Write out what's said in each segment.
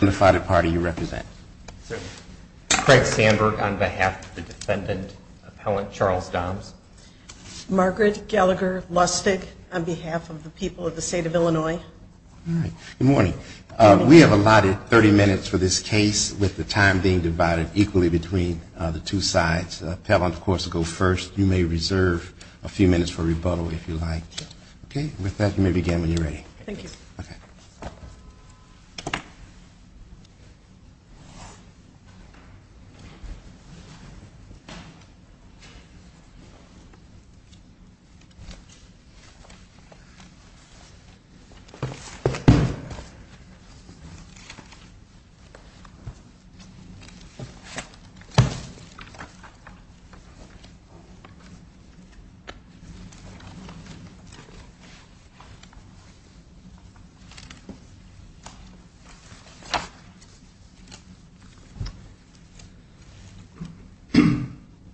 Margaret Gallagher Lustig on behalf of the people of the state of Illinois Good morning. We have allotted 30 minutes for this case with the time being divided equally between the two sides. Appellant, of course, will go first. You may reserve a few minutes for rebuttal if you like. Okay. With that, you may begin when you're ready. Thank you. Okay.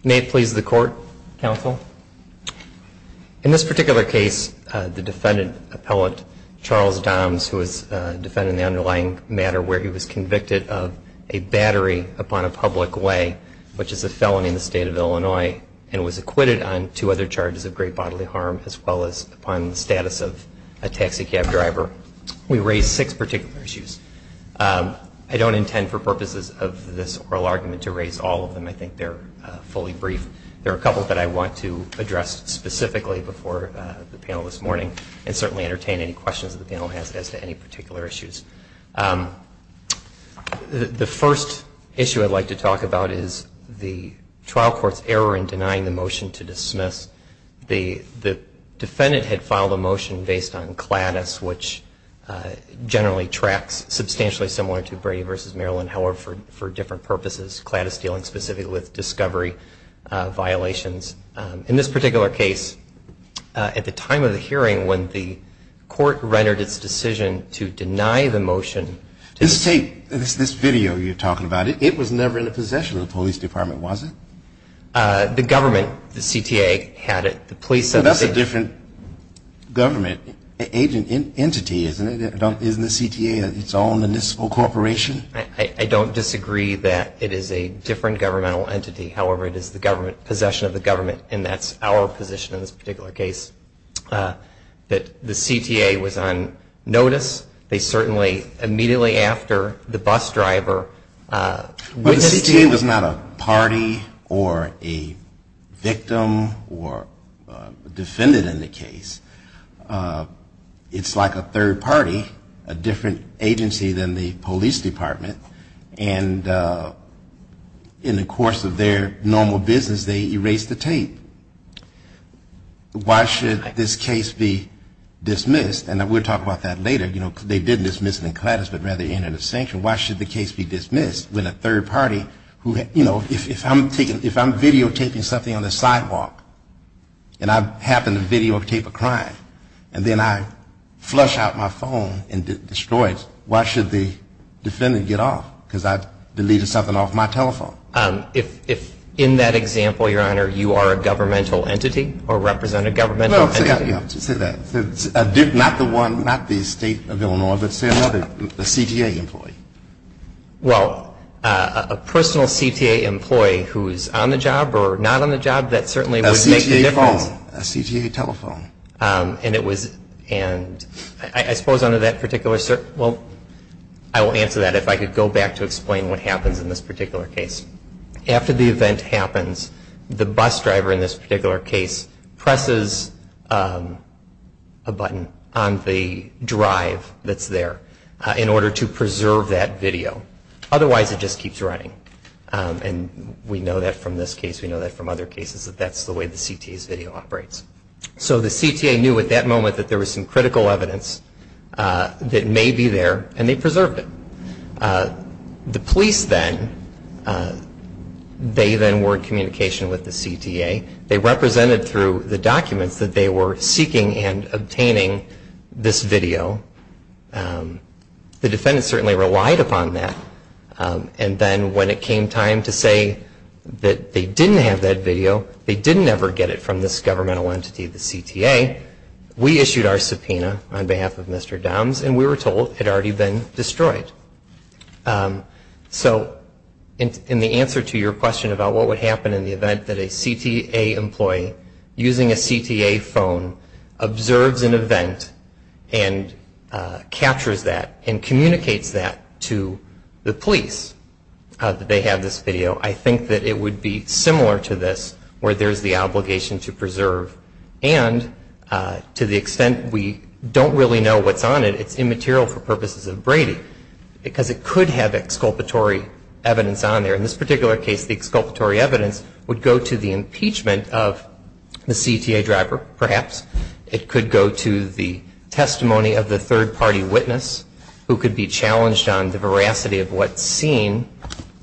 May it please the court, counsel. In this particular case, the defendant, Appellant Charles Dahms, who is defending the underlying matter where he was convicted of a battery upon a public way, which is a felony in the state of Illinois, and was acquitted on two other charges of great bodily harm as well as upon the status of a taxi cab driver. We raise six particular issues. I don't intend for purposes of this oral argument to raise all of them. I think they're fully brief. There are a couple that I want to address specifically before the panel this morning and certainly entertain any questions that the panel has as to any particular issues. The first issue I'd like to talk about is the trial court's error in denying the motion to dismiss. The defendant had filed a motion based on CLADIS, which generally tracks substantially similar to Brady v. Maryland, however, for different purposes. CLADIS dealing specifically with discovery violations. In this particular case, at the time of the hearing when the court rendered its decision to deny the motion to dismiss. This tape, this video you're talking about, it was never in the possession of the police department, was it? The government, the CTA, had it. The police said the same thing. Well, that's a different government entity, isn't it? Isn't the CTA its own municipal corporation? I don't disagree that it is a different governmental entity. However, it is the government, possession of the government, and that's our position in this particular case. But the CTA was not a party or a victim or defendant in the case. It's like a third party, a different agency than the police department, and in the course of their normal business, they erased the tape. Why should this case be dismissed? And we'll talk about that later. You know, they did dismiss it in CLADIS, but rather in a distinction. Why should the case be dismissed when a third party who, you know, if I'm videotaping something on the sidewalk, and I happen to videotape a crime, and then I flush out my phone and destroy it, why should the defendant get off? Because I deleted something off my telephone. If in that example, Your Honor, you are a governmental entity or represent a governmental entity. Well, say that. Not the one, not the State of Illinois, but say another, a CTA employee. Well, a personal CTA employee who is on the job or not on the job, that certainly would make the difference. A CTA phone, a CTA telephone. And it was, and I suppose under that particular, well, I will answer that if I could go back to explain what happens in this particular case. After the event happens, the bus driver in this particular case presses a button on the drive that's there in order to preserve that video. Otherwise, it just keeps running. And we know that from this case, we know that from other cases, that that's the way the CTA's video operates. So the CTA knew at that moment that there was some critical evidence that may be there, and they preserved it. The police then, they then were in communication with the CTA. They represented through the documents that they were seeking and obtaining this video. The defendant certainly relied upon that. And then when it came time to say that they didn't have that video, they didn't ever get it from this governmental entity, the CTA. We issued our subpoena on behalf of Mr. Doms, and we were told it had already been destroyed. So in the answer to your question about what would happen in the event that a CTA employee using a CTA phone observes an event and captures that and communicates that to the police that they have this video, I think that it would be similar to this where there's the obligation to preserve. And to the extent we don't really know what's on it, it's immaterial for purposes of Brady. Because it could have exculpatory evidence on there. In this particular case, the exculpatory evidence would go to the impeachment of the CTA driver, perhaps. It could go to the testimony of the third-party witness who could be challenged on the veracity of what's seen.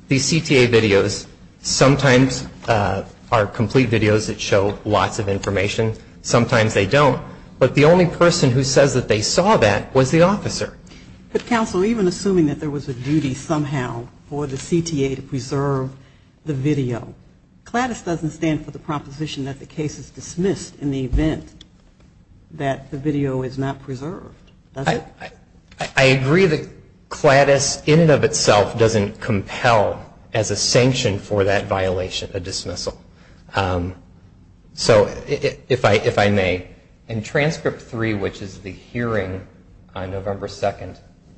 These CTA videos sometimes are complete videos that show lots of information. Sometimes they don't. But the only person who says that they saw that was the officer. But counsel, even assuming that there was a duty somehow for the CTA to preserve the video, CLADIS doesn't stand for the proposition that the case is dismissed in the event that the video is not preserved, does it? I agree that CLADIS in and of itself doesn't compel as a sanction for that violation a dismissal. So if I may, in transcript three, which is the hearing on November 2,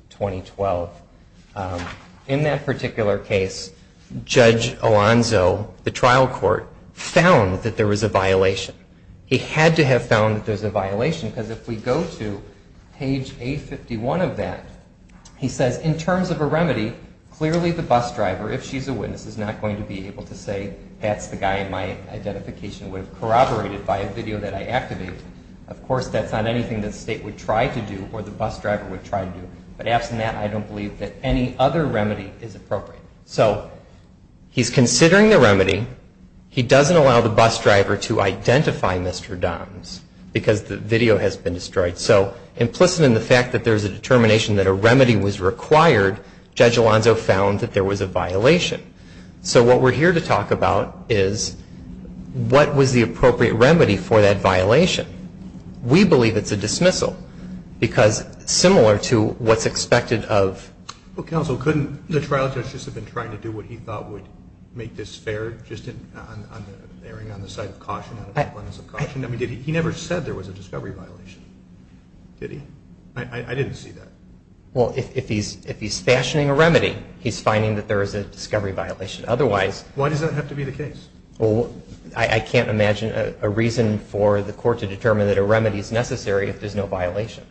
2012, in that particular case, Judge Alonzo, the trial court, found that there was a violation. He had to have found that there was a violation because if we go to page A51 of that, he says, in terms of a remedy, clearly the bus driver, if she's a witness, is not going to be able to say that's the guy in my identification. It would have corroborated by a video that I activated. Of course, that's not anything that the state would try to do or the bus driver would try to do. But absent that, I don't believe that any other remedy is appropriate. So he's considering the remedy. He doesn't allow the bus driver to identify Mr. Doms because the video has been destroyed. So implicit in the fact that there's a determination that a remedy was required, Judge Alonzo found that there was a violation. So what we're here to talk about is what was the appropriate remedy for that violation. We believe it's a dismissal because similar to what's expected of... Well, counsel, couldn't the trial judge just have been trying to do what he thought would make this fair, just erring on the side of caution? He never said there was a discovery violation. Did he? I didn't see that. Well, if he's fashioning a remedy, he's finding that there is a discovery violation. Why does that have to be the case? I can't imagine a reason for the court to determine that a remedy is necessary if there's no violation.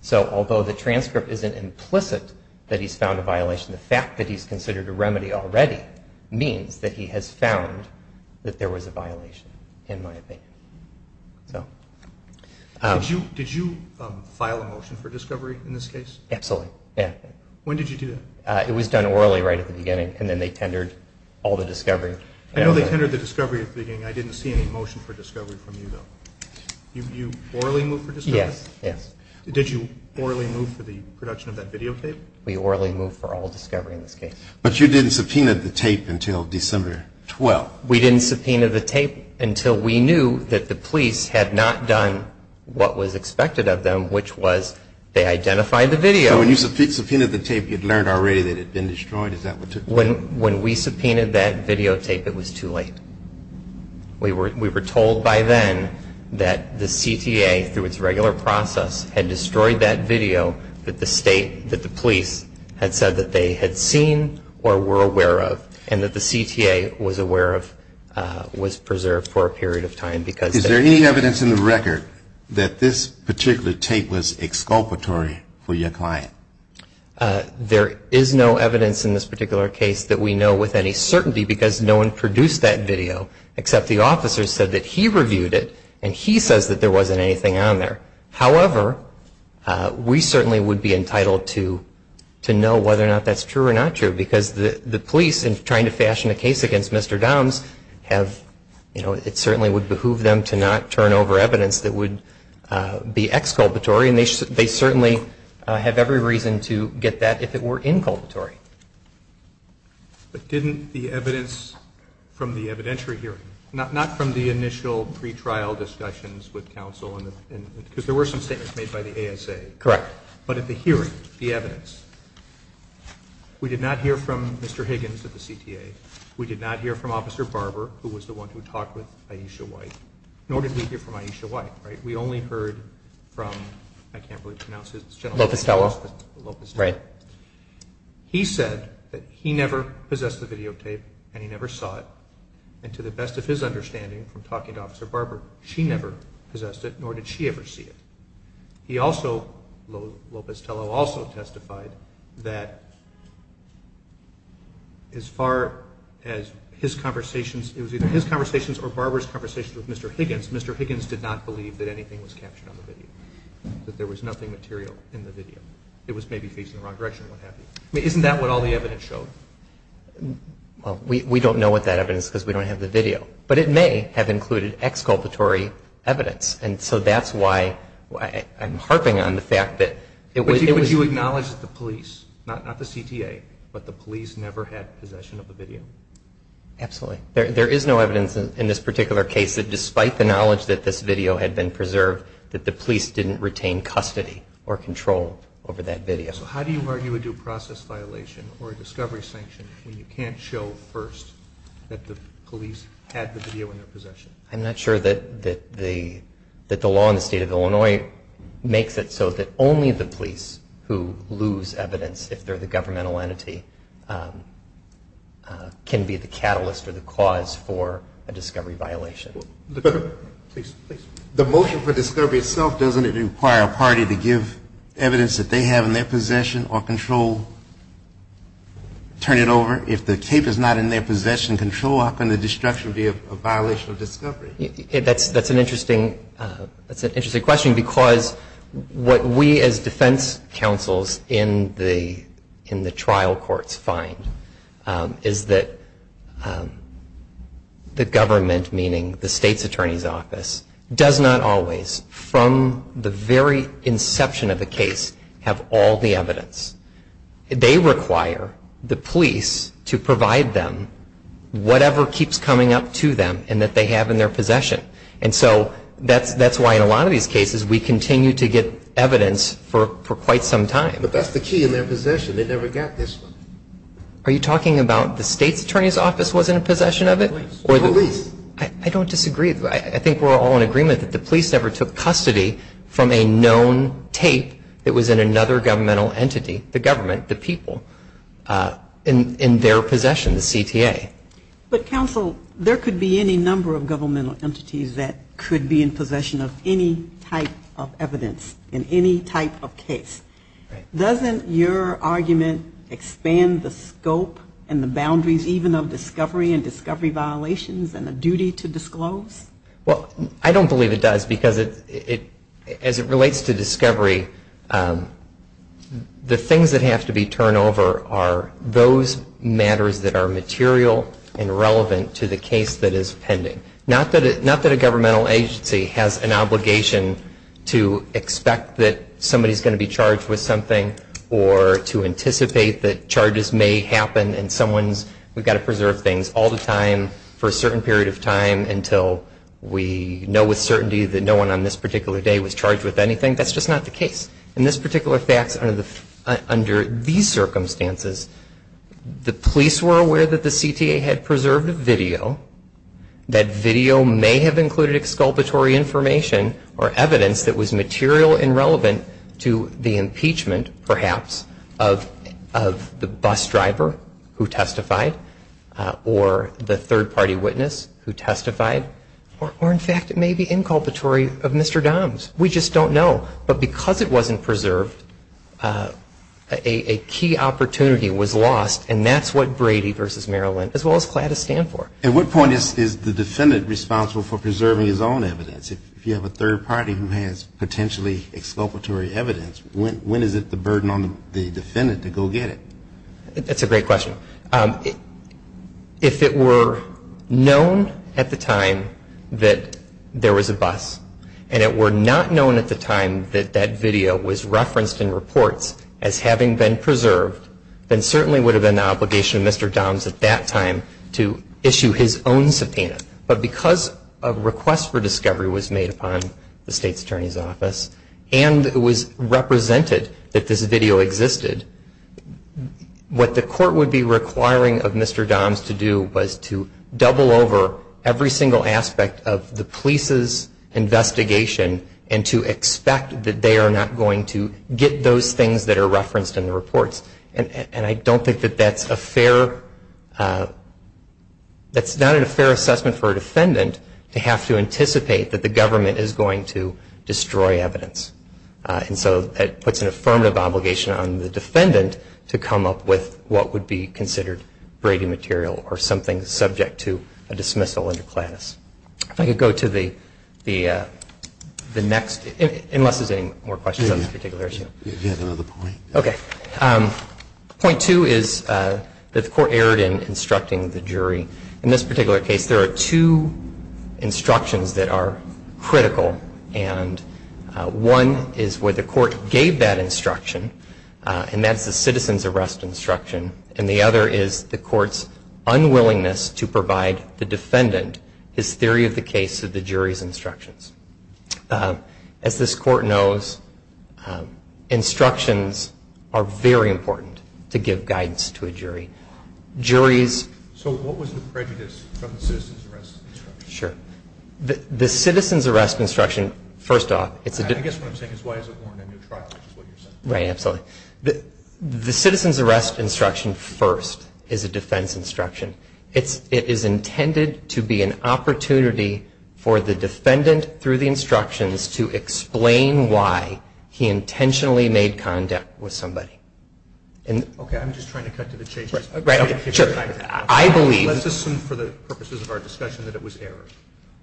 So although the transcript isn't implicit that he's found a violation, the fact that he's considered a remedy already means that he has found that there was a violation, in my opinion. Did you file a motion for discovery in this case? Absolutely. When did you do that? It was done orally right at the beginning, and then they tendered all the discovery. I know they tendered the discovery at the beginning. I didn't see any motion for discovery from you, though. You orally moved for discovery? Yes. Did you orally move for the production of that videotape? We orally moved for all discovery in this case. But you didn't subpoena the tape until December 12th. We didn't subpoena the tape until we knew that the police had not done what was expected of them, which was they identified the video. So when you subpoenaed the tape, you had learned already that it had been destroyed? When we subpoenaed that videotape, it was too late. We were told by then that the CTA, through its regular process, had destroyed that video that the police had said that they had seen or were aware of, and that the CTA was aware of, was preserved for a period of time. Is there any evidence in the record that this particular tape was exculpatory for your client? There is no evidence in this particular case that we know with any certainty, because no one produced that video, except the officer said that he reviewed it, and he says that there wasn't anything on there. However, we certainly would be entitled to know whether or not that's true or not true, because the police, in trying to fashion a case against Mr. Doms, it certainly would behoove them to do that. It would behoove them to not turn over evidence that would be exculpatory, and they certainly have every reason to get that if it were inculpatory. But didn't the evidence from the evidentiary hearing, not from the initial pretrial discussions with counsel, because there were some statements made by the ASA. Correct. But at the hearing, the evidence, we did not hear from Mr. Higgins at the CTA. We did not hear from Officer Barber, who was the one who talked with Ayesha White, nor did we hear from Ayesha White. We only heard from, I can't really pronounce his general name. He said that he never possessed the videotape, and he never saw it, and to the best of his understanding from talking to Officer Barber, she never possessed it, nor did she ever see it. He also, Lopez Tello also testified that as far as his conversations, it was either his conversations or Barber's conversations with Mr. Higgins, Mr. Higgins did not believe that anything was captured on the video, that there was nothing material in the video. It was maybe facing the wrong direction, what have you. I mean, isn't that what all the evidence showed? Well, we don't know what that evidence is because we don't have the video, but it may have included exculpatory evidence, and so that's why I'm harping on the fact that it was. Would you acknowledge that the police, not the CTA, but the police never had possession of the video? Absolutely. There is no evidence in this particular case that despite the knowledge that this video had been preserved, that the police didn't retain custody or control over that video. So how do you argue a due process violation or a discovery sanction when you can't show first that the police had the video in their possession? I'm not sure that the law in the state of Illinois makes it so that only the police who lose evidence, if they're the governmental entity, can be the catalyst or the cause for a discovery violation. The motion for discovery itself, doesn't it require a party to give evidence that they have in their possession or control, turn it over? If the cape is not in their possession, control, how can the destruction be a violation of discovery? That's an interesting question, because what we as defense counsels in the trial courts find is that the government, meaning the state, has the ability to give evidence to the police, but the state's attorney's office does not always, from the very inception of the case, have all the evidence. They require the police to provide them whatever keeps coming up to them and that they have in their possession. And so that's why in a lot of these cases we continue to get evidence for quite some time. But that's the key in their possession. They never got this one. Are you talking about the state's attorney's office was in possession of it? Police. I don't disagree. I think we're all in agreement that the police never took custody from a known tape that was in another governmental entity, the government, the people, in their possession, the CTA. But, counsel, there could be any number of governmental entities that could be in possession of any type of evidence in any type of case. Doesn't your argument expand the scope and the boundaries even of discovery and discovery violations and the duty to disclose? Well, I don't believe it does, because as it relates to discovery, the things that have to be turned over are those matters that are material and relevant to the case that is pending. Not that a governmental agency has an obligation to expect that somebody is going to be charged with something or to anticipate that charges may happen and someone's, we've got to preserve things all the time for a certain period of time until we know with certainty that no one on this particular day was charged with anything. That's just not the case. In this particular fact, under these circumstances, the police were aware that the CTA had preserved a video, that video was in their possession. That video may have included exculpatory information or evidence that was material and relevant to the impeachment, perhaps, of the bus driver who testified or the third-party witness who testified, or, in fact, it may be inculpatory of Mr. Doms. We just don't know. But because it wasn't preserved, a key opportunity was lost, and that's what Brady v. Maryland, as well as CLATA, stand for. At what point is the defendant responsible for preserving his own evidence? If you have a third-party who has potentially exculpatory evidence, when is it the burden on the defendant to go get it? That's a great question. If it were known at the time that there was a bus, and it were not known at the time that that video was referenced in reports as having been preserved, then certainly would have been the obligation of Mr. Doms at that time to issue a report. But because a request for discovery was made upon the State's Attorney's Office, and it was represented that this video existed, what the court would be requiring of Mr. Doms to do was to double over every single aspect of the police's investigation and to expect that they are not going to get those things that are referenced in the reports. And I don't think that that's a fair, that's not a fair assessment for a defendant to have to anticipate that the government is going to destroy evidence. And so that puts an affirmative obligation on the defendant to come up with what would be considered Brady material or something subject to a dismissal under CLATAS. If I could go to the next, unless there's any more questions on this particular issue. Okay. Point two is that the court erred in instructing the jury. In this particular case, there are two instructions that are critical. And one is where the court gave that instruction, and that's the citizen's arrest instruction. And the other is the court's unwillingness to provide the defendant his theory of the case to the jury's instructions. As this court knows, instructions are very important to give guidance to a jury. Juries... So what was the prejudice from the citizen's arrest instruction? Sure. The citizen's arrest instruction, first off... I guess what I'm saying is why is it warranted in a trial, which is what you're saying. Right. Absolutely. The citizen's arrest instruction first is a defense instruction. It is intended to be an opportunity for the defendant, through the instructions, to explain why he intentionally made contact with somebody. Okay. I'm just trying to cut to the chase. Let's assume for the purposes of our discussion that it was error.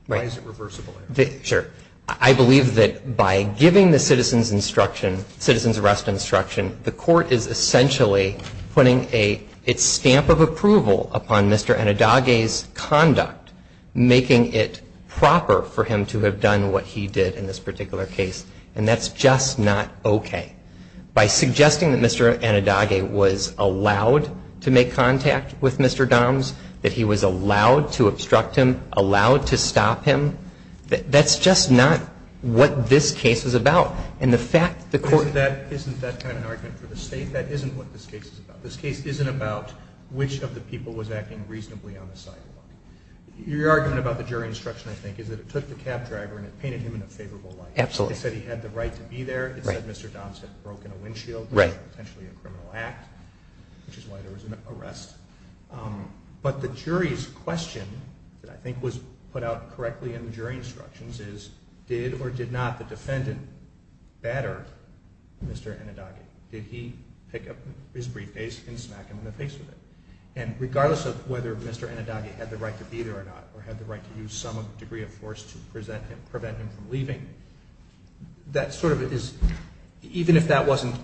Why is it reversible error? Sure. I believe that by giving the citizen's instruction, citizen's arrest instruction, the court is essentially putting a stamp of approval upon Mr. Anadage's conduct, making it proper for him to have done what he did in this particular case. And that's just not okay. By suggesting that Mr. Anadage was allowed to make contact with Mr. Doms, that he was allowed to obstruct him, allowed to stop him, that's just not what this case is about. Isn't that kind of an argument for the State? That isn't what this case is about. This case isn't about which of the people was acting reasonably on the sidewalk. Your argument about the jury instruction, I think, is that it took the cab driver and it painted him in a favorable light. Absolutely. It said he had the right to be there. It said Mr. Doms had broken a windshield. Potentially a criminal act, which is why there was an arrest. But the jury's question that I think was put out correctly in the jury instructions is, did or did not the defendant batter Mr. Anadage? Did he pick up his briefcase and smack him in the face with it? And regardless of whether Mr. Anadage had the right to be there or not or had the right to use some degree of force to prevent him from leaving, that sort of is, even if that wasn't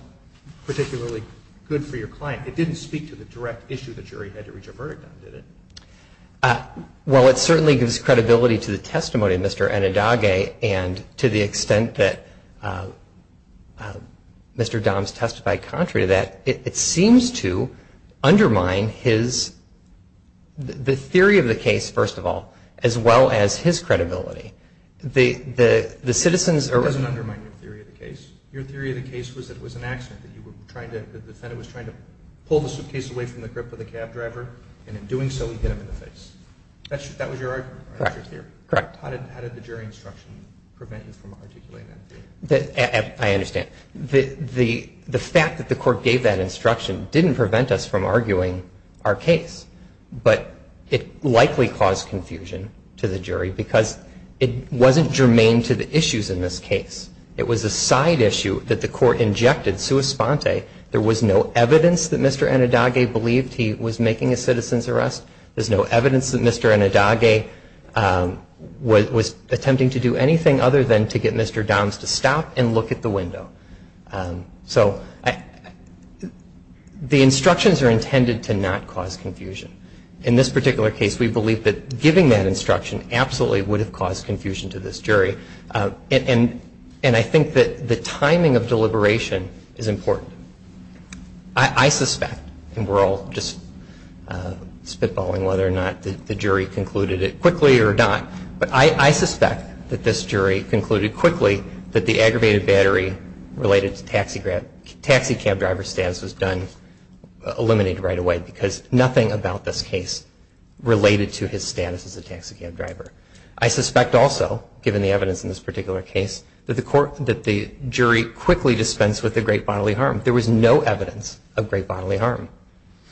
particularly good for your client, it didn't speak to the direct issue the jury had to reach a verdict on, did it? Well, it certainly gives credibility to the testimony of Mr. Anadage, and to the extent that Mr. Doms testified contrary to that, it seems to undermine his, the theory of the case, first of all, as well as his credibility. The citizens are... It doesn't undermine your theory of the case. Your theory of the case was that it was an accident, that you were trying to, the defendant was trying to pull the suitcase away from the grip of the cab driver, and in doing so, he hit him in the face. That was your argument, right? Correct. How did the jury instruction prevent you from articulating that theory? I understand. The fact that the court gave that instruction didn't prevent us from arguing our case, but it likely caused confusion to the jury, because it wasn't germane to the issues in this case. It was a side issue that the court injected, sua sponte. There was no evidence that Mr. Anadage believed he was making a citizen's arrest. There's no evidence that Mr. Anadage was attempting to do anything other than to get Mr. Doms to stop and look at the window. So the instructions are intended to not cause confusion. In this particular case, we believe that giving that instruction absolutely would have caused confusion to this jury, and I think that the timing of deliberation is important. I suspect, and we're all just spitballing whether or not the jury concluded it quickly or not, but I suspect that this jury concluded quickly that the aggravated battery related to taxi cab driver status was eliminated right away, because nothing about this case related to his status as a taxi cab driver. I suspect also, given the evidence in this particular case, that the jury quickly dispensed with the great bodily harm. There was no evidence of great bodily harm.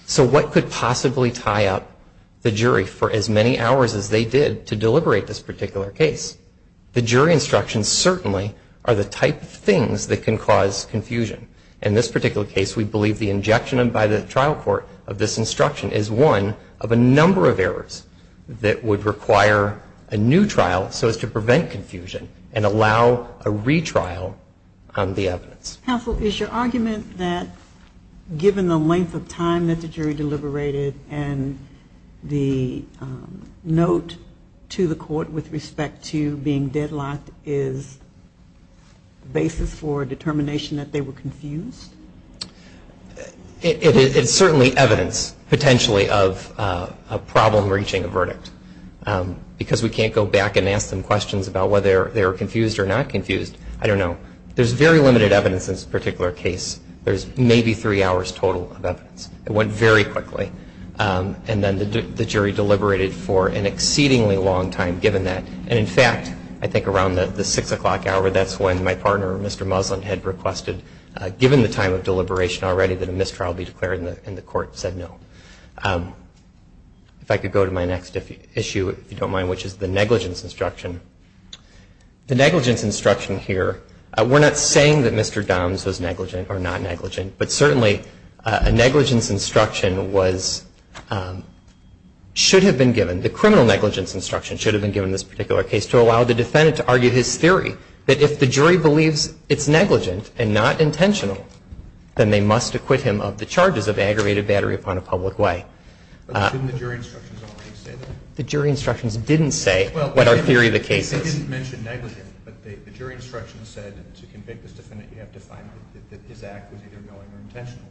So what could possibly tie up the jury for as many hours as they did to deliberate this particular case? The jury instructions certainly are the type of things that can cause confusion. In this particular case, we believe the injection by the trial court of this instruction is one of a number of errors that would require a new trial so as to prevent confusion and allow a retrial on the evidence. Counsel, is your argument that given the length of time that the jury deliberated and the note to the court with respect to being deadlocked is the basis for a determination that they were confused? It's certainly evidence, potentially, of a problem reaching a verdict, because we can't go back and ask them questions about whether they were confused or not confused. I don't know. There's very limited evidence in this particular case. There's maybe three hours total of evidence. It went very quickly. And then the jury deliberated for an exceedingly long time given that. And in fact, I think around the 6 o'clock hour, that's when my partner, Mr. Muslin, had requested, given the time of deliberation already, that a mistrial be declared, and the court said no. If I could go to my next issue, if you don't mind, which is the negligence instruction. The negligence instruction here, we're not saying that Mr. Doms was negligent or not negligent, but certainly a negligence instruction was, should have been given, the criminal negligence instruction should have been given in this particular case to allow the defendant to argue his theory, that if the jury believes it's negligent and not intentional, then they must acquit him of the charges of aggravated battery upon a public way. But didn't the jury instructions already say that? The jury instructions didn't say what our theory of the case is. Well, they didn't mention negligent, but the jury instructions said to convict this defendant, you have to find that his act was either knowing or intentional.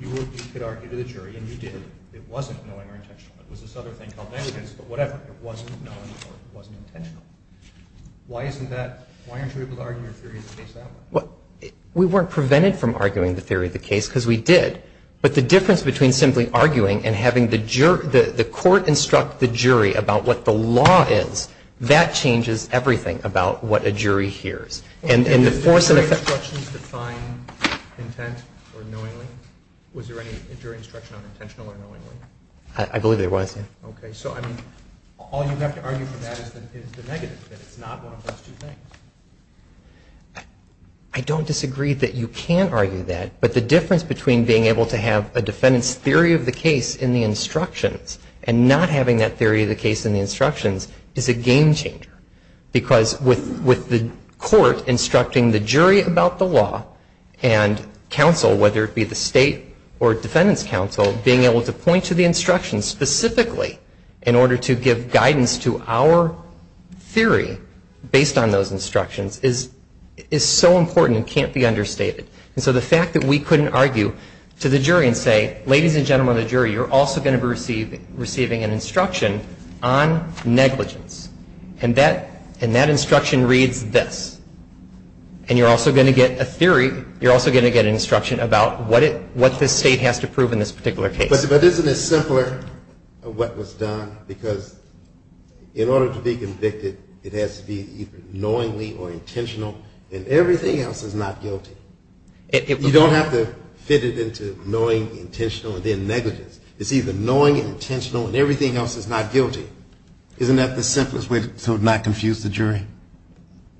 You could argue to the jury, and you did. It wasn't knowing or intentional. It was this other thing called negligence, but whatever. It wasn't knowing or it wasn't intentional. Why isn't that, why aren't you able to argue your theory of the case that way? Well, we weren't prevented from arguing the theory of the case because we did. But the difference between simply arguing and having the court instruct the jury about what the law is, that changes everything about what a jury hears. And the force of effect... Did the jury instructions define intent or knowingly? Was there any jury instruction on intentional or knowingly? I believe there was, yes. Okay. So, I mean, all you have to argue for that is the negative, that it's not one of those two things. I don't disagree that you can argue that, but the difference between being able to have a defendant's theory of the case in the instructions and not having that theory of the case in the instructions is a game changer. Because with the court instructing the jury about the law, and counsel, whether it be the state or defendant's counsel, being able to point to the instructions specifically in order to give guidance to our theory based on those instructions is so important and can't be understated. And so the fact that we couldn't argue to the jury and say, ladies and gentlemen of the jury, you're also going to be receiving an instruction on negligence, and that instruction reads this. And you're also going to get a theory, you're also going to get an instruction about what this state has to prove in this particular case. But isn't it simpler what was done? Because in order to be convicted, it has to be either knowingly or intentional, and everything else is not guilty. You don't have to fit it into knowingly, intentional, and then negligence. It's either knowingly, intentional, and everything else is not guilty. Isn't that the simplest way to not confuse the jury?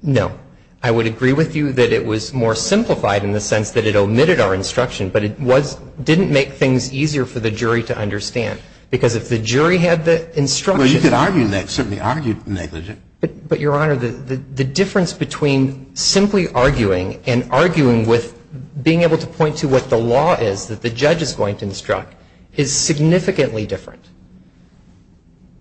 No. I would agree with you that it was more simplified in the sense that it omitted our instruction, but it didn't make things easier for the jury to understand. Because if the jury had the instruction. Well, you could argue that. Certainly argue negligent. But, Your Honor, the difference between simply arguing and arguing with being able to point to what the law is that the judge is going to instruct is significantly different.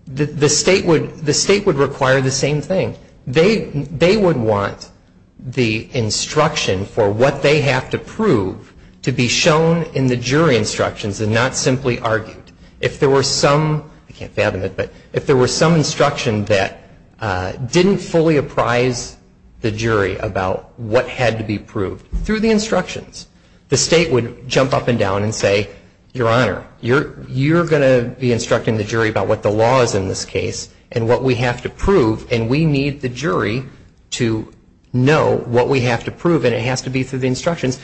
The state would require the same thing. They would want the instruction for what they have to prove to be shown in the jury instructions and not simply argued. If there were some, I can't fathom it, but if there were some instruction that didn't fully apprise the jury about what had to be proved through the instructions, the state would jump up and down and say, Your Honor, you're going to be instructing the jury about what the law is in this case and what we have to prove, and we need the jury to know what we have to prove, and it has to be through the instructions.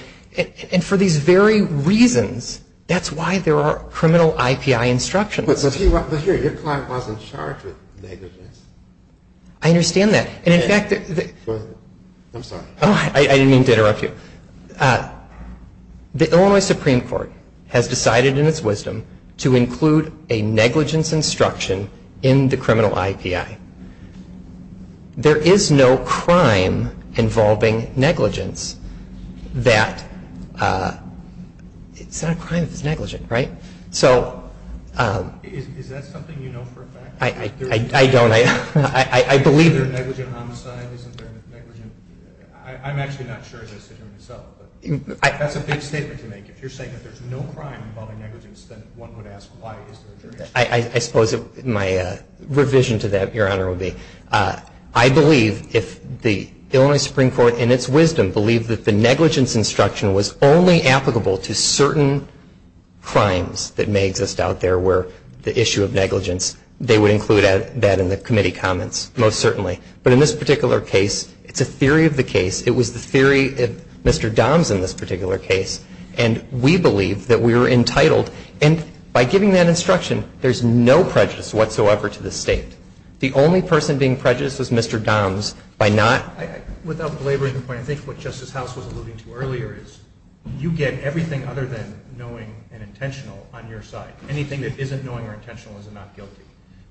And for these very reasons, that's why there are criminal IPI instructions. Your client wasn't charged with negligence. I understand that. I'm sorry. I didn't mean to interrupt you. The Illinois Supreme Court has decided in its wisdom to include a negligence instruction in the criminal IPI. There is no crime involving negligence that, it's not a crime if it's negligent, right? Is that something you know for a fact? I don't. I believe that. Is there negligent homicide? I'm actually not sure as I sit here myself. That's a big statement to make. If you're saying that there's no crime involving negligence, then one would ask why is there a jury instruction? I suppose my revision to that, Your Honor, would be I believe if the Illinois Supreme Court in its wisdom believed that the negligence instruction was only applicable to certain crimes that may exist out there where the issue of negligence, they would include that in the committee comments most certainly. But in this particular case, it's a theory of the case. It was the theory of Mr. Doms in this particular case. And we believe that we are entitled, and by giving that instruction, there's no prejudice whatsoever to the State. The only person being prejudiced was Mr. Doms by not — Without belaboring the point, I think what Justice House was alluding to earlier is you get everything other than knowing and intentional on your side. Anything that isn't knowing or intentional is not guilty.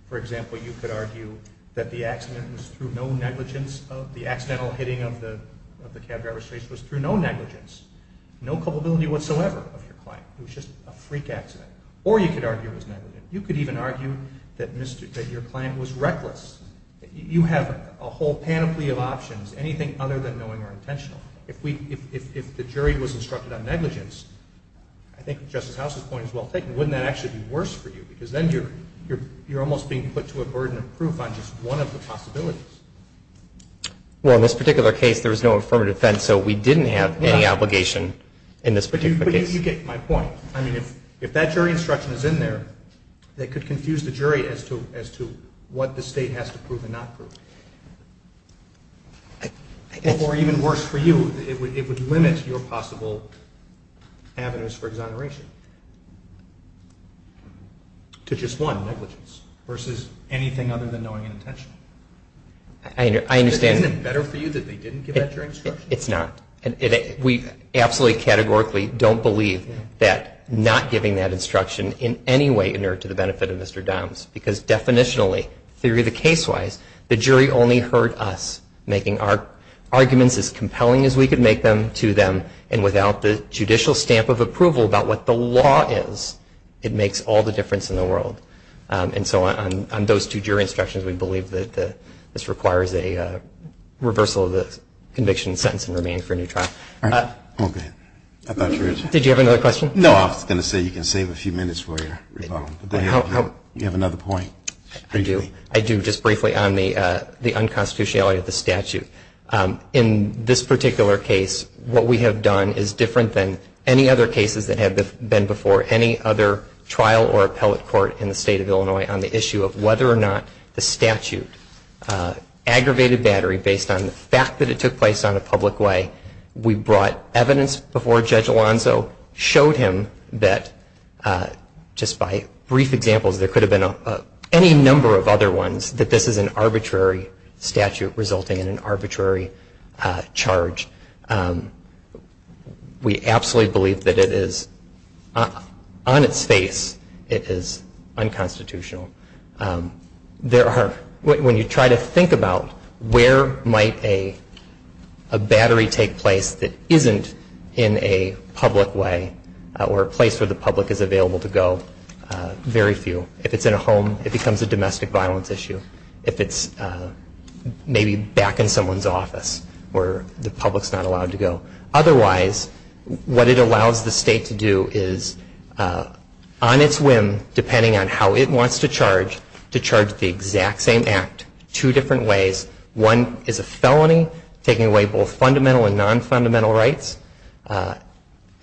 For example, you could argue that the accident was through no negligence of — the accidental hitting of the cab driver's face was through no negligence, no culpability whatsoever of your client. It was just a freak accident. Or you could argue it was negligent. You could even argue that your client was reckless. You have a whole panoply of options, anything other than knowing or intentional. If we — if the jury was instructed on negligence, I think Justice House's point is well taken. Wouldn't that actually be worse for you? Because then you're almost being put to a burden of proof on just one of the possibilities. Well, in this particular case, there was no affirmative defense, so we didn't have any obligation in this particular case. But you get my point. I mean, if that jury instruction is in there, that could confuse the jury as to what the State has to prove and not prove. Or even worse for you, it would limit your possible avenues for exoneration to just one, negligence, versus anything other than knowing and intentional. I understand. Isn't it better for you that they didn't give that jury instruction? It's not. We absolutely categorically don't believe that not giving that instruction in any way inert to the benefit of Mr. Downs, because definitionally, theory of the case-wise, the jury only heard us making our arguments as compelling as we could make them to them. And without the judicial stamp of approval about what the law is, it makes all the difference in the world. And so on those two jury instructions, we believe that this requires a reversal of the conviction and sentence and remaining for a new trial. Okay. I thought you were going to say... Did you have another question? No, I was going to say you can save a few minutes for your rebuttal. Do you have another point? I do. I do. Just briefly on the unconstitutionality of the statute. In this particular case, what we have done is different than any other cases that have been before any other trial or appellate court in the state of Illinois on the issue of whether or not the statute aggravated battery based on the fact that it took place on a public way. We brought evidence before Judge Alonzo, showed him that, just by brief examples, there could have been any number of other ones, that this is an arbitrary statute resulting in an arbitrary charge. We absolutely believe that on its face, it is unconstitutional. When you try to think about where might a battery take place that isn't in a public way, or a place where the public is available to go, very few. If it's in a home, it becomes a domestic violence issue. If it's maybe back in someone's office where the public is not allowed to go. Otherwise, what it allows the state to do is, on its whim, depending on how it wants to charge, to charge the exact same act two different ways. One is a felony, taking away both fundamental and non-fundamental rights,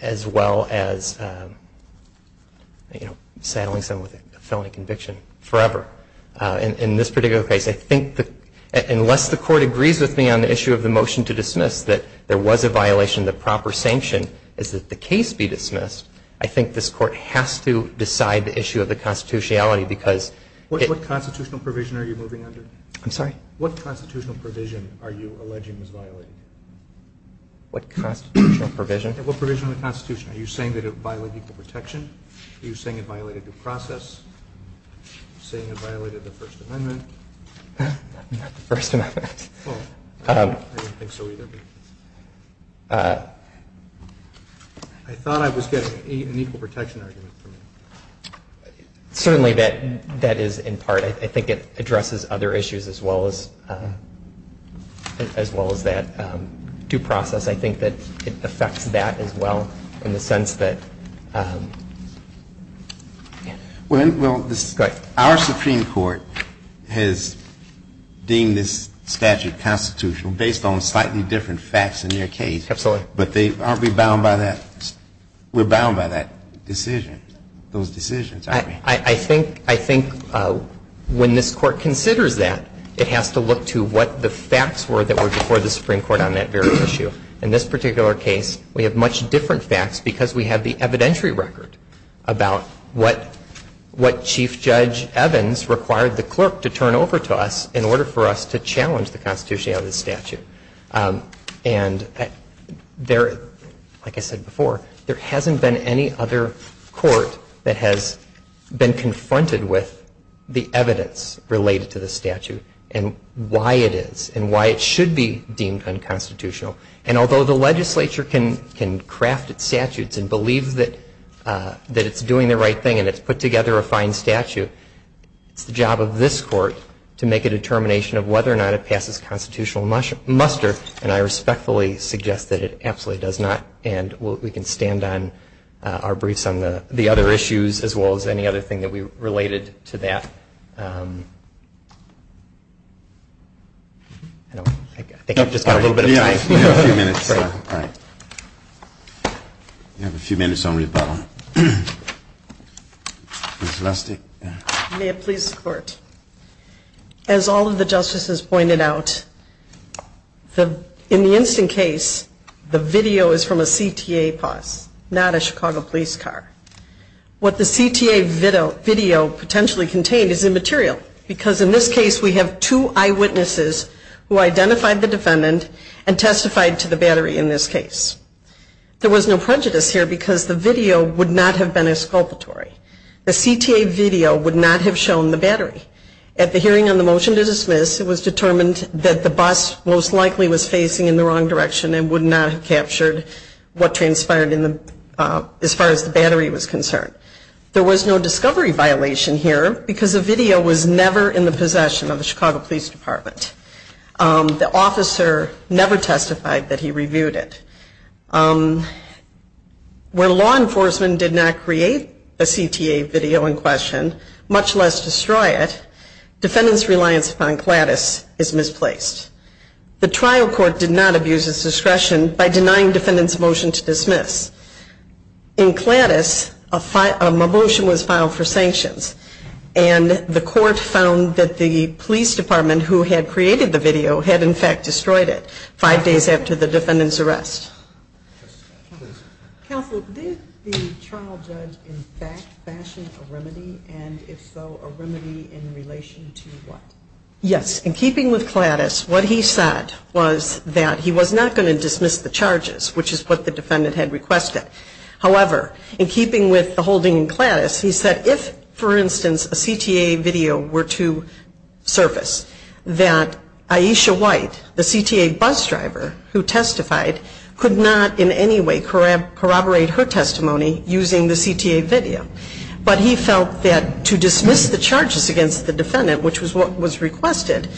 as well as saddling someone with a felony conviction forever. In this particular case, unless the court agrees with me on the issue of the motion to dismiss that there was a violation of the proper sanction, is that the case be dismissed, I think this court has to decide the issue of the constitutionality. What constitutional provision are you moving under? I'm sorry? What constitutional provision are you alleging was violated? What constitutional provision? What provision of the constitution? Are you saying that it violated equal protection? Are you saying it violated due process? Are you saying it violated the First Amendment? Not the First Amendment. I didn't think so either. I thought I was getting an equal protection argument from you. Certainly, that is in part. I think it addresses other issues as well as that. Due process, I think that it affects that as well in the sense that. Well, this is. Go ahead. Our Supreme Court has deemed this statute constitutional based on slightly different facts in your case. Absolutely. But they aren't rebound by that. Rebound by that decision, those decisions. I think when this court considers that, it has to look to what the facts were that were before the Supreme Court on that very issue. In this particular case, we have much different facts because we have the evidentiary record about what Chief Judge Evans required the clerk to turn over to us in order for us to challenge the constitutionality of the statute. And there, like I said before, there hasn't been any other court that has been confronted with the evidence related to the statute and why it is and why it should be deemed unconstitutional. And although the legislature can craft its statutes and believe that it's doing the right thing and it's put together a fine statute, it's the job of this court to make a determination of whether or not it passes constitutional muster. And I respectfully suggest that it absolutely does not. And we can stand on our briefs on the other issues as well as any other thing that we related to that. I think I've just got a little bit of time. Yeah, you have a few minutes. All right. You have a few minutes on rebuttal. Ms. Lustig. May it please the court. As all of the justices pointed out, in the instant case, the video is from a CTA post, not a Chicago police car. What the CTA video potentially contained is immaterial because in this case we have two eyewitnesses who identified the defendant and testified to the battery in this case. There was no prejudice here because the video would not have been exculpatory. The CTA video would not have shown the battery. At the hearing on the motion to dismiss, it was determined that the bus most likely was facing in the wrong direction and would not have captured what transpired as far as the battery was concerned. There was no discovery violation here and the video was never in the possession of the Chicago Police Department. The officer never testified that he reviewed it. Where law enforcement did not create a CTA video in question, much less destroy it, defendant's reliance upon CLADIS is misplaced. The trial court did not abuse its discretion by denying defendant's motion to dismiss. In CLADIS, a motion was filed for sanctions and the court found that the police department who had created the video had in fact destroyed it five days after the defendant's arrest. Counsel, did the trial judge in fact fashion a remedy and if so, a remedy in relation to what? Yes. In keeping with CLADIS, what he said was that he was not going to dismiss the charges, which is what the defendant had requested. However, in keeping with the holding in CLADIS, he said if, for instance, a CTA video were to surface, that Aisha White, the CTA bus driver who testified, could not in any way corroborate her testimony using the CTA video. But he felt that to dismiss the charges against the defendant, which was what was requested,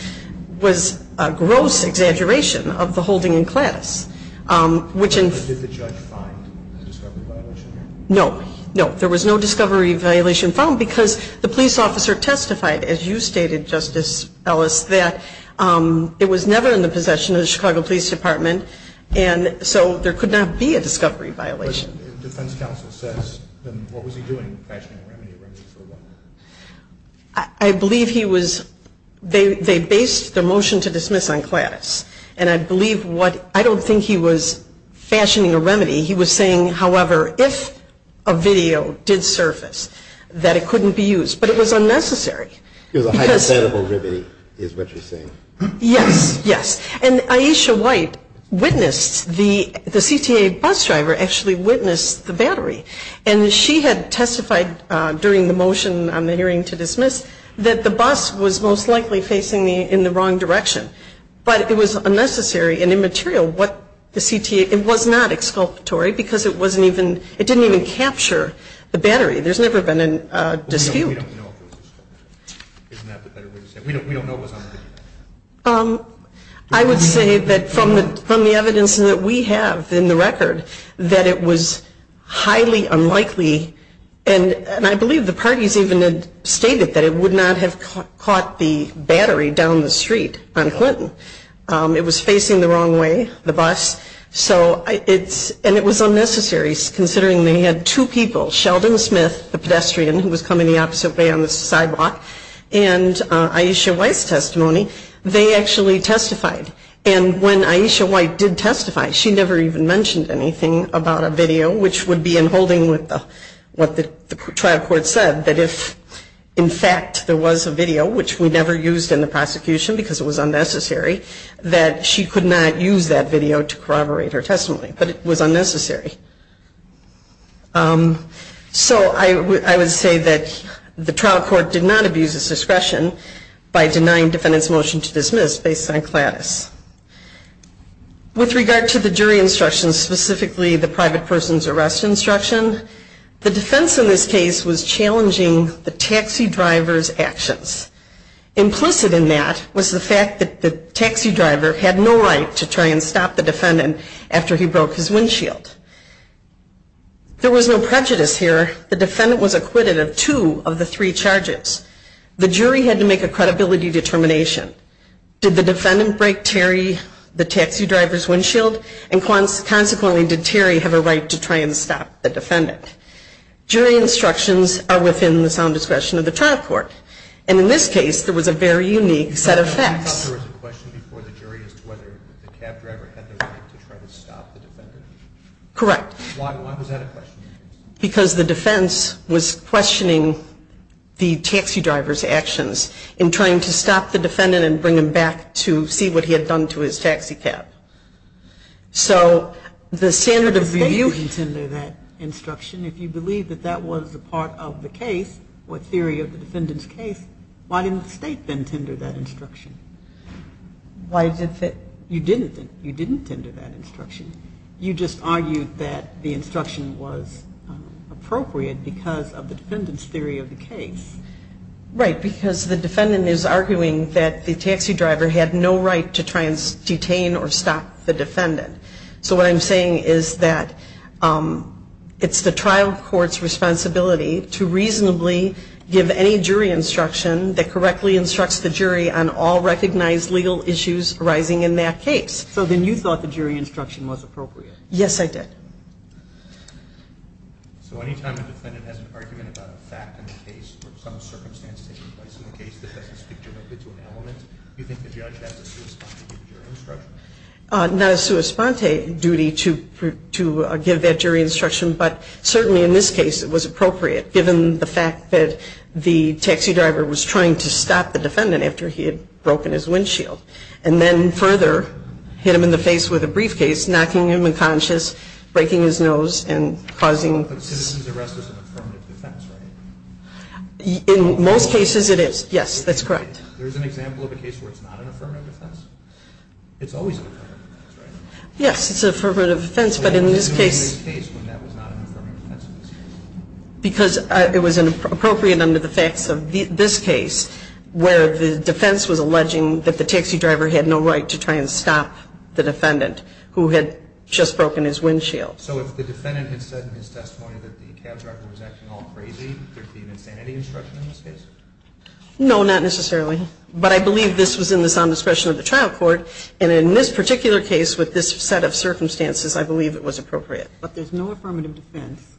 was a gross exaggeration of the holding in CLADIS. Did the judge find a discovery violation here? No. No, there was no discovery violation found because the police officer testified, as you stated, Justice Ellis, that it was never in the possession of the Chicago Police Department and so there could not be a discovery violation. But the defense counsel says, then what was he doing fashioning a remedy in relation to what? I believe he was, they based their motion to dismiss on CLADIS and I believe what, I don't think he was fashioning a remedy. He was saying, however, if a video did surface, that it couldn't be used. But it was unnecessary. It was a hypothetical remedy is what you're saying. Yes. Yes. And Aisha White witnessed, the CTA bus driver actually witnessed the battery and she had testified during the motion on the hearing to dismiss that the bus was most likely facing in the wrong direction. But it was unnecessary and immaterial what the CTA, it was not exculpatory because it wasn't even, it didn't even capture the battery. There's never been a dispute. We don't know if it was exculpatory. Isn't that the better way to say it? We don't know what was on the video. I would say that from the evidence that we have in the record that it was highly unlikely and I believe the parties even had stated that it would not have caught the battery down the street on Clinton. It was facing the wrong way, the bus. So it's, and it was unnecessary considering they had two people, Sheldon Smith, the pedestrian, who was coming the opposite way on the sidewalk, and Aisha White's testimony, they actually testified. And when Aisha White did testify, she never even mentioned anything about a video which would be in holding with what the trial court said that if in fact there was a video, which we never used in the prosecution because it was unnecessary, that she could not use that video to corroborate her testimony. But it was unnecessary. So I would say that the trial court did not abuse its discretion by denying defendants' motion to dismiss based on CLADIS. With regard to the jury instructions, specifically the private person's arrest instruction, the defense in this case was challenging the taxi driver's actions. Implicit in that was the fact that the taxi driver had no right to try and stop the defendant after he broke his windshield. There was no prejudice here. The defendant was acquitted of two of the three charges. The jury had to make a credibility determination. Did the defendant break Terry, the taxi driver's windshield? And consequently, did Terry have a right to try and stop the defendant? Jury instructions are within the sound discretion of the trial court. And in this case, there was a very unique set of facts. I thought there was a question before the jury as to whether the cab driver had the right to try and stop the defendant. Correct. Why was that a question? Because the defense was questioning the taxi driver's actions in trying to stop the defendant and bring him back to see what he had done to his taxi cab. So the standard of... Do you consider that instruction, if you believe that that was a part of the case, or a theory of the defendant's case, why didn't the state then tender that instruction? Why did the... You didn't tender that instruction. You just argued that the instruction was appropriate because of the defendant's theory of the case. Right. Because the defendant is arguing that the taxi driver had no right to try and detain or stop the defendant. So what I'm saying is that it's the trial court's responsibility to reasonably give any jury instruction that correctly instructs the jury on all recognized legal issues arising in that case. So then you thought the jury instruction was appropriate. Yes, I did. So any time a defendant has an argument about a fact in the case or some circumstance taking place in the case that doesn't speak directly to an element, do you think the judge has a sua sponte duty to give the jury instruction? Not a sua sponte duty to give that jury instruction, but certainly in this case it was appropriate given the fact that the taxi driver was trying to stop the defendant after he had broken his windshield and then further hit him in the face with a briefcase, knocking him unconscious, breaking his nose, and causing... But citizen's arrest is an affirmative defense, right? In most cases it is. Yes, that's correct. There's an example of a case where it's not an affirmative defense? It's always an affirmative defense, right? Yes, it's an affirmative defense, but in this case... Why is it not an affirmative defense in this case? Because it was appropriate under the facts of this case where the defense was alleging that the taxi driver had no right to try and stop the defendant who had just broken his windshield. So if the defendant had said in his testimony that the cab driver was acting all crazy, there would be an insanity instruction in this case? No, not necessarily. But I believe this was in the sound discretion of the trial court, and in this particular case with this set of circumstances, I believe it was appropriate. It was an affirmative defense,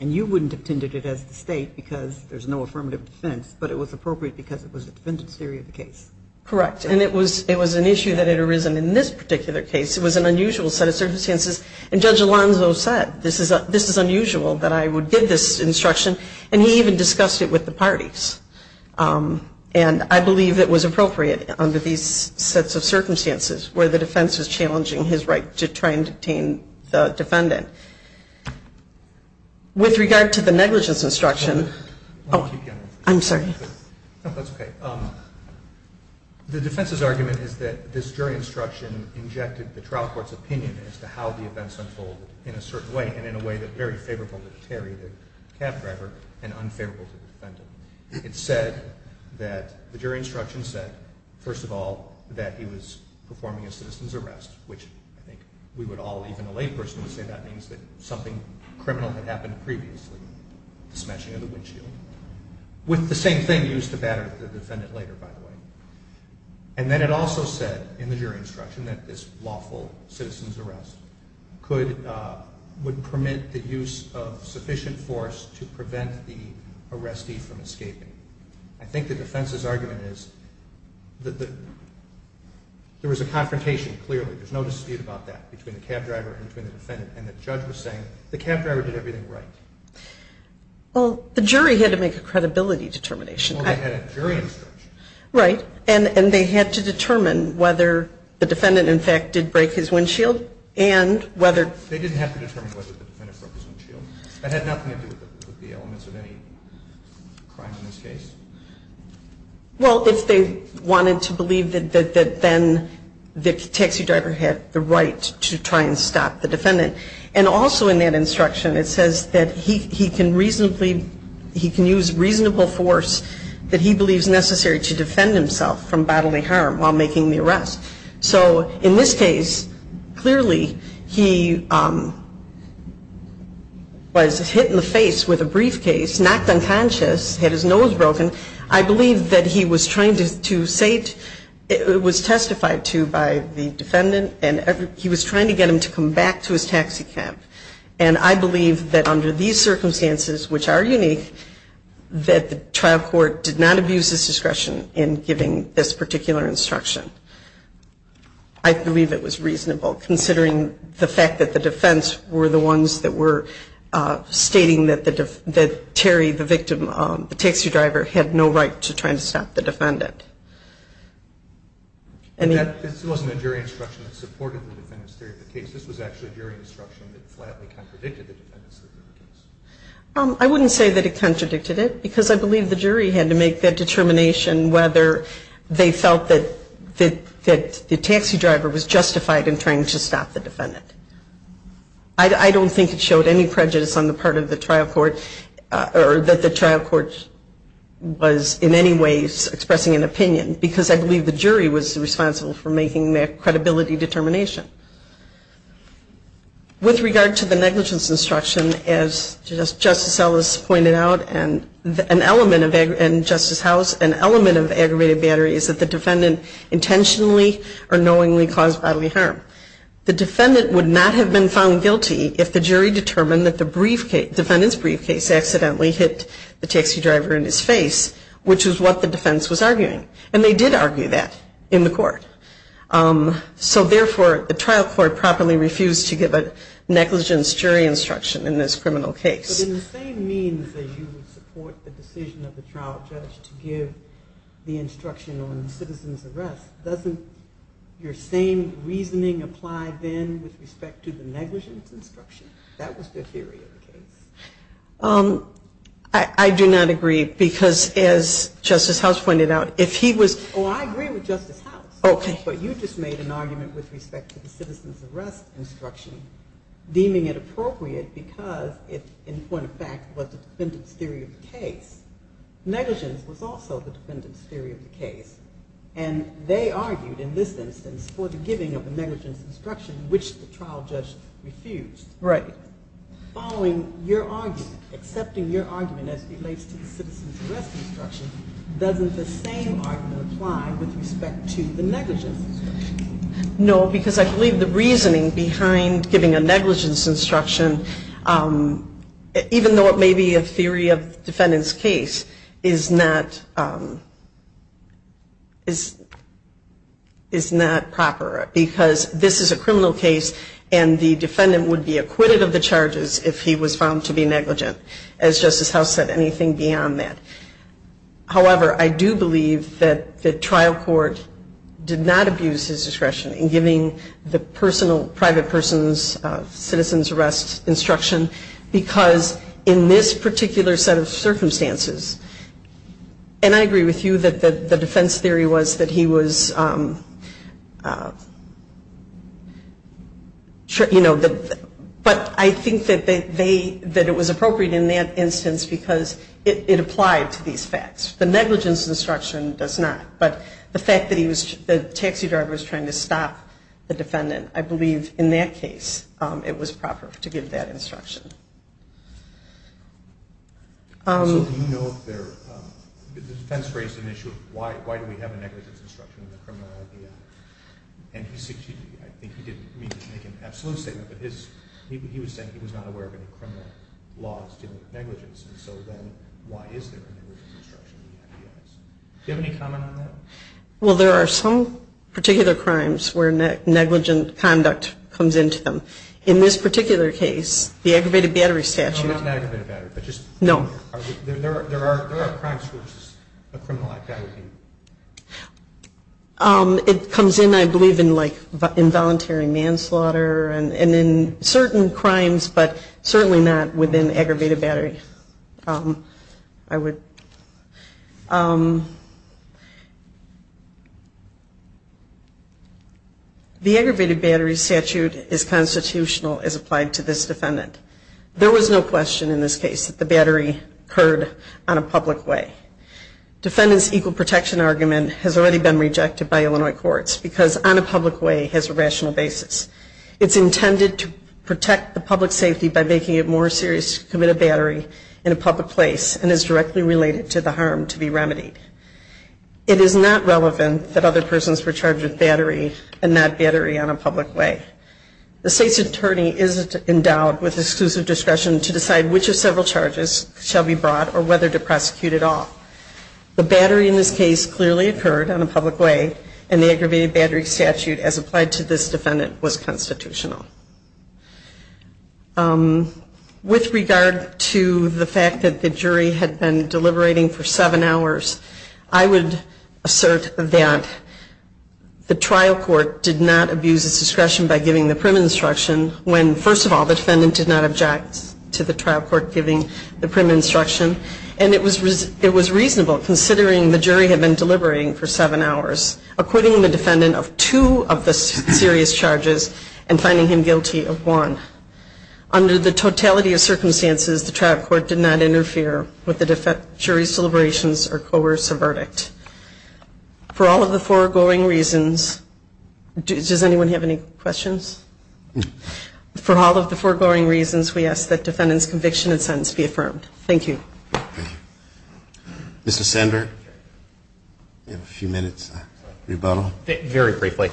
and you wouldn't have tended it as the state because there's no affirmative defense, but it was appropriate because it was a defendant's theory of the case. Correct, and it was an issue that had arisen in this particular case. It was an unusual set of circumstances, and Judge Alonzo said, this is unusual that I would give this instruction, and he even discussed it with the parties. And I believe it was appropriate under these sets of circumstances where the defense was challenging his right to try and detain the defendant. With regard to the negligence instruction, I'm sorry. No, that's okay. The defense's argument is that this jury instruction injected the trial court's opinion as to how the events unfolded in a certain way, and in a way that was very favorable to Terry, the cab driver, and unfavorable to the defendant. It said that the jury instruction said, first of all, that he was performing a citizen's arrest, which I think we would all, even a lay person would say that means that something criminal had happened previously, the smashing of the windshield, with the same thing used to batter the defendant later, by the way. And then it also said in the jury instruction that this lawful citizen's arrest would permit the use of sufficient force to prevent the arrestee from escaping. I think the defense's argument is that there was a confrontation, clearly. There's no dispute about that between the cab driver and the defendant, and the judge was saying, the cab driver did everything right. Well, the jury had to make a credibility determination. Well, they had a jury instruction. Right, and they had to determine whether the defendant, in fact, did break his windshield, and whether... They didn't have to determine whether the defendant broke his windshield. That had nothing to do with the elements of any crime in this case. Well, if they wanted to believe that then the taxi driver had the right to try and stop the defendant, and also in that instruction, it says that he can reasonably, he can use reasonable force that he believes necessary to defend himself from bodily harm while making the arrest. So in this case, clearly, he was hit in the face with a briefcase, knocked unconscious, had his nose broken. I believe that he was trying to say that he was hit, it was testified to by the defendant, and he was trying to get him to come back to his taxi cab. And I believe that under these circumstances, which are unique, that the trial court did not abuse his discretion in giving this particular instruction. I believe it was reasonable, considering the fact that the defense were the ones that were stating that Terry, the victim, the taxi driver, had no right to try and stop the defendant. This wasn't a jury instruction that supported the defendant's theory of the case. This was actually a jury instruction that flatly contradicted the defendant's theory of the case. I wouldn't say that it contradicted it, because I believe the jury had to make that determination whether they felt that the taxi driver was justified in trying to stop the defendant. I don't think it showed any prejudice on the part of the trial court, or that the trial court was in any ways expressing an opinion, because I believe the jury was responsible for making that credibility determination. With regard to the negligence instruction, as Justice Ellis pointed out, and Justice House, an element of aggravated battery is that the defendant intentionally or knowingly caused bodily harm. The defendant would not have been found guilty if the jury determined that the defendant's briefcase accidentally hit the taxi driver in his face, which is what the defense was arguing. And they did argue that in the court. So therefore, the trial court properly refused to give a negligence jury instruction in this criminal case. But in the same means that you would support the decision of the trial judge to give the instruction on the citizen's arrest, doesn't your same reasoning apply then with respect to the negligence instruction? That was the theory of the case. I do not agree, because as Justice House pointed out, he was... Oh, I agree with Justice House. Okay. But you just made an argument with respect to the citizen's arrest instruction, deeming it appropriate because it, in point of fact, was the defendant's theory of the case. Negligence was also the defendant's theory of the case. And they argued in this instance for the giving of the negligence instruction, which the trial judge refused. Right. Following your argument, accepting your argument as it relates to the citizen's arrest instruction, doesn't the same argument apply with respect to the negligence instruction? No, because I believe the reasoning behind giving a negligence instruction, even though it may be a theory of the defendant's case, is not... is... is not proper because this is a criminal case and the defendant would be acquitted of the charges if he was found guilty of negligence instruction. As Justice House said, anything beyond that. However, I do believe that the trial court did not abuse his discretion in giving the personal, private person's citizen's arrest instruction because in this particular set of circumstances, and I agree with you that the defense theory was that he was... you know, but I think that they... that it was appropriate in that instance because it applied to these facts. The negligence instruction does not, but the fact that he was... the taxi driver was trying to stop the defendant, I believe in that case it was proper to give that instruction. So do you know if there... the defense raised an issue of why do we have a negligence instruction in the criminal idea? And I think he didn't make an absolute statement, but he was saying he was not aware of any criminal laws dealing with negligence, and so then why is there a negligence instruction in the idea? Do you have any comment on that? Well, there are some particular crimes where negligent conduct comes into them. In this particular case, the aggravated battery statute... No, not an aggravated battery, but just... No. There are crimes where it's just a criminal idea. It comes in, I believe, in involuntary manslaughter and in certain crimes, but certainly not within aggravated battery. I would... The aggravated battery statute is constitutional as applied to this defendant. There was no question in this case that the battery occurred on a public way. Defendant's equal protection argument has already been rejected by Illinois courts because on a public way has a rational basis. It's intended to protect the public safety by making it more serious to commit a battery in a public place and is directly related to the harm to be remedied. It is not relevant that other persons were charged with battery and not battery on a public way. The state's attorney isn't endowed with exclusive discretion to decide which of several charges shall be brought or whether to prosecute at all. The battery in this case clearly occurred on a public way and the aggravated battery statute as applied to this defendant was constitutional. With regard to the fact that the jury had been deliberating for seven hours, I would assert that the trial court did not abuse its discretion by giving the prim instruction when, first of all, the defendant did not object to the trial court giving the prim instruction and it was... it was reasonable considering the jury had been deliberating for seven hours acquitting the defendant of two of the serious charges and finding him guilty of one. Under the totality of circumstances, the trial court did not interfere with the jury's deliberations or coerce a verdict. For all of the foregoing reasons, does anyone have any questions? For all of the foregoing reasons, we ask that defendant's conviction and sentence be affirmed. Thank you. Mr. Sandberg? You have a few minutes. Rebuttal? Very briefly.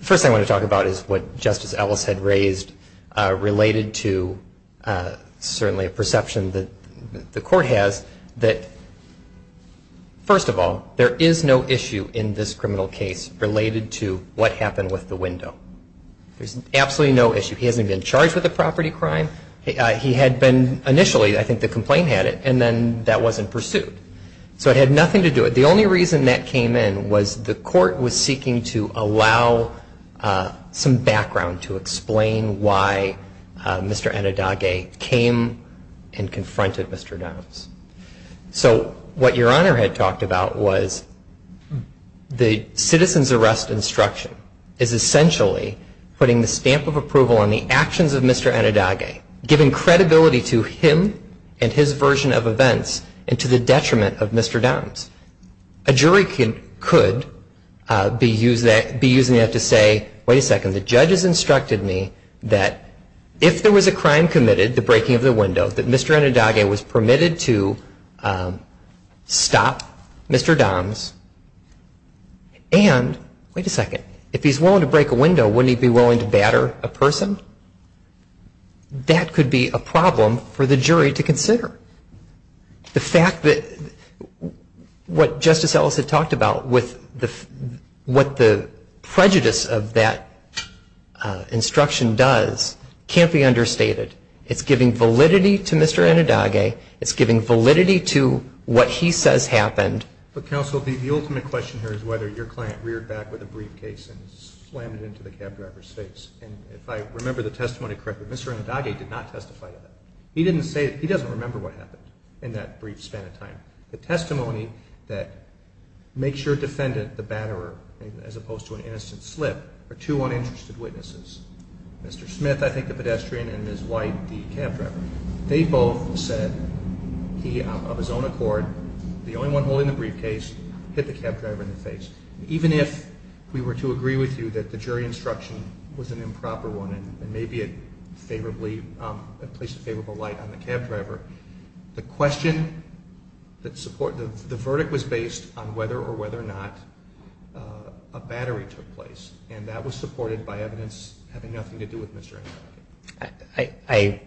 First thing I want to talk about is what Justice Ellis had raised related to certainly a perception that the court has that, first of all, there is no issue in this criminal case related to what happened with the window. There's absolutely no issue. He hasn't been charged with a property crime. He had been, initially, I think the complaint had it and then that wasn't pursued. So it had nothing to do with it. The only reason that came in was the court was seeking to allow some background to explain why Mr. Anadage came and confronted Mr. Dunn. So, what Your Honor had talked about was the citizen's arrest instruction is essentially putting the stamp of approval on the actions of Mr. Anadage, giving credibility to him and his version of events and to the detriment of Mr. Dunn. A jury could be using that to say, wait a second, the judge has instructed me that if there was a crime committed, the breaking of the window, that Mr. Anadage was permitted to stop Mr. Dunn and, wait a second, if he's willing to break a window, wouldn't he be willing to batter a person? That could be a problem for the jury to consider. The fact that what Justice Ellis had talked about with what the prejudice of that instruction does can't be understated. It's giving validity to Mr. Anadage. It's giving validity to what he says happened. But Counsel, the ultimate question here is whether your client reared back with a briefcase and slammed it into the cab driver's face. And if I remember the testimony correctly, Mr. Anadage did not testify to that. He didn't say, he doesn't remember what happened in that brief span of time. The testimony that makes your defendant the batterer as opposed to an innocent slip are two uninterested witnesses. Mr. Smith, I think the pedestrian, and Ms. White, the cab driver. They both said he, of his own accord, the only one holding the briefcase, hit the cab driver in the face. Even if we were to agree with you that the jury instruction was an improper one and maybe it placed a favorable light on the cab driver, the question that the verdict was based on whether or whether or not a battery took place. And that was supported by evidence having nothing to do with Mr. Anadage.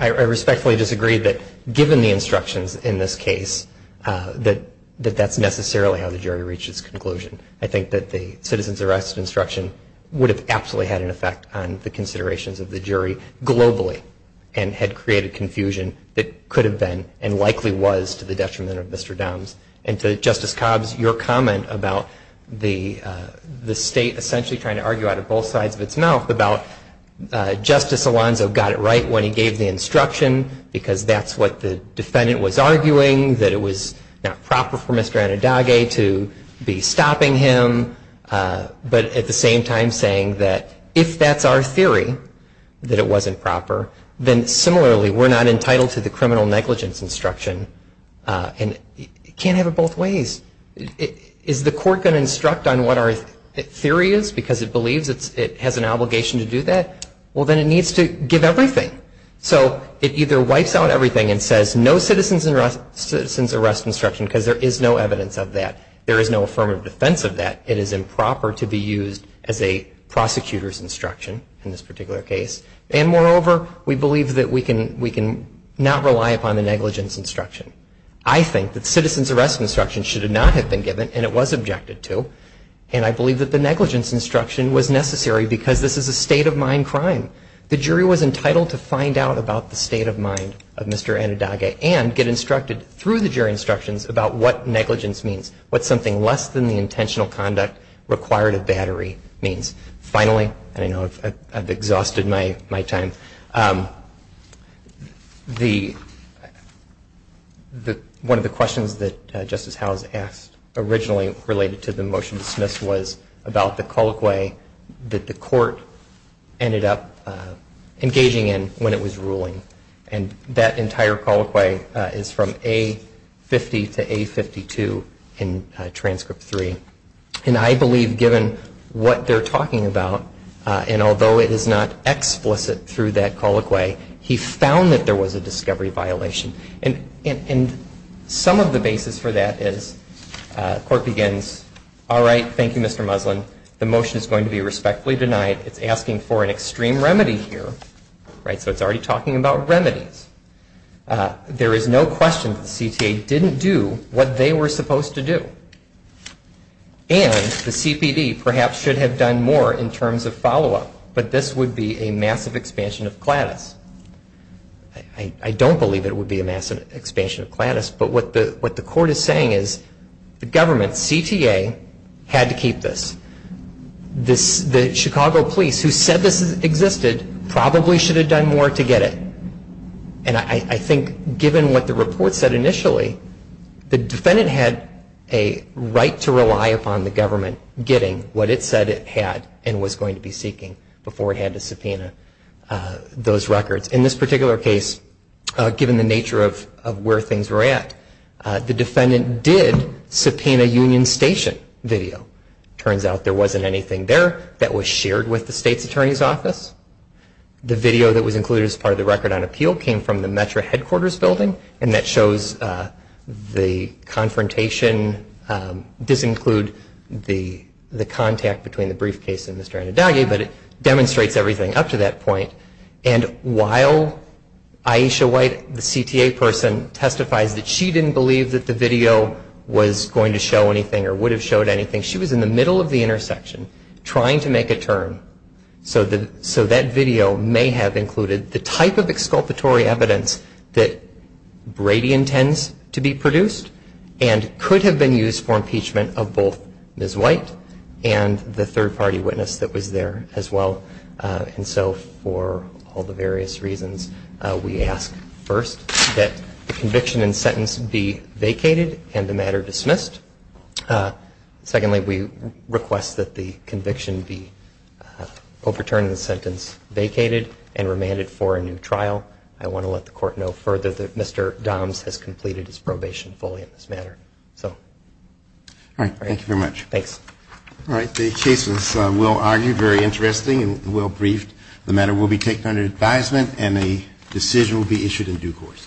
I respectfully that given the instructions in this case that that's necessarily how the jury reached its conclusion. I think that the citizen's arrest instruction would have absolutely had an effect on the considerations of the jury globally and had created confusion that could have been and likely was to the detriment of Mr. Downs. And to Justice Cobbs, your comment about the state essentially trying to argue out of both sides of its mouth about Justice Alonzo got it right when he gave the instruction because that's what the defendant was arguing. That it was not proper for Mr. Anadage to be stopping him but at the same time saying that if that's our theory that it wasn't proper, then similarly we're not entitled to the criminal negligence instruction and you can't have it both ways. Is the court going to instruct on what our theory is because it believes it has an obligation to do that? Well then it needs to give everything. So it either wipes out everything and says no citizen's arrest instruction because there is no evidence of that. There is no affirmative defense of that. It is improper to be used as a prosecutor's instruction in this particular case and moreover we believe that we can not rely upon the negligence instruction. I think that citizen's arrest instruction should not have been given and it was objected to and I believe that the negligence instruction was necessary because this is a state of mind and the statute of conduct required a battery. Finally, I know I have exhausted my time. One of the questions that Justice Howe asked originally related to the motion dismissed was about the colloquy that the court ended up engaging in when it was ruling. That entire colloquy is from A50 to A52 in transcript 3. I believe given what they are talking about and although it is not explicit through that colloquy, he found that there was a discovery violation and some of the basis for that is the court begins, all right, thank you Mr. Muslin. The motion is going to be respectfully denied. It is asking for an explanation of what they were supposed to do. And the CPD perhaps should have done more in terms of follow-up, but this would be a massive expansion of CLADIS. I don't believe it would be a massive expansion of CLADIS, but what the court is saying is the government, CTA, had to keep this. The defendant had a right to rely upon the government getting what it said it had and was going to be seeking before it had to subpoena those records. In this particular case, given the nature of where things were at, the defendant did subpoena Union Station video. Turns out there wasn't anything there that was shared with the state's attorney's office. The video that was included as part of the record on appeal came from the Metro headquarters building, and that shows the confrontation. This includes the contact between the briefcase and Mr. Anadagi, but it demonstrates everything up to that point. And while Aisha White, the CTA person, testifies that she didn't believe that the video was going to show anything or would have showed anything, she was in the middle of the intersection trying to make a turn, so that video may have included the type of exculpatory evidence that Brady intends to be produced and could have been used for impeachment of both Ms. White and the third party witness that was there as well. And so for all the various reasons, first that the conviction and sentence be vacated and the matter dismissed. Secondly, we request that the conviction be overturned and the sentence vacated and remanded for a new trial. I want to let the court know further that Mr. Doms has completed his probation fully in this matter. So. All right, thank you very much. Thanks. All right, the case is well argued, very interesting, and well briefed. The matter will be taken under advisement and a decision will be issued in due course.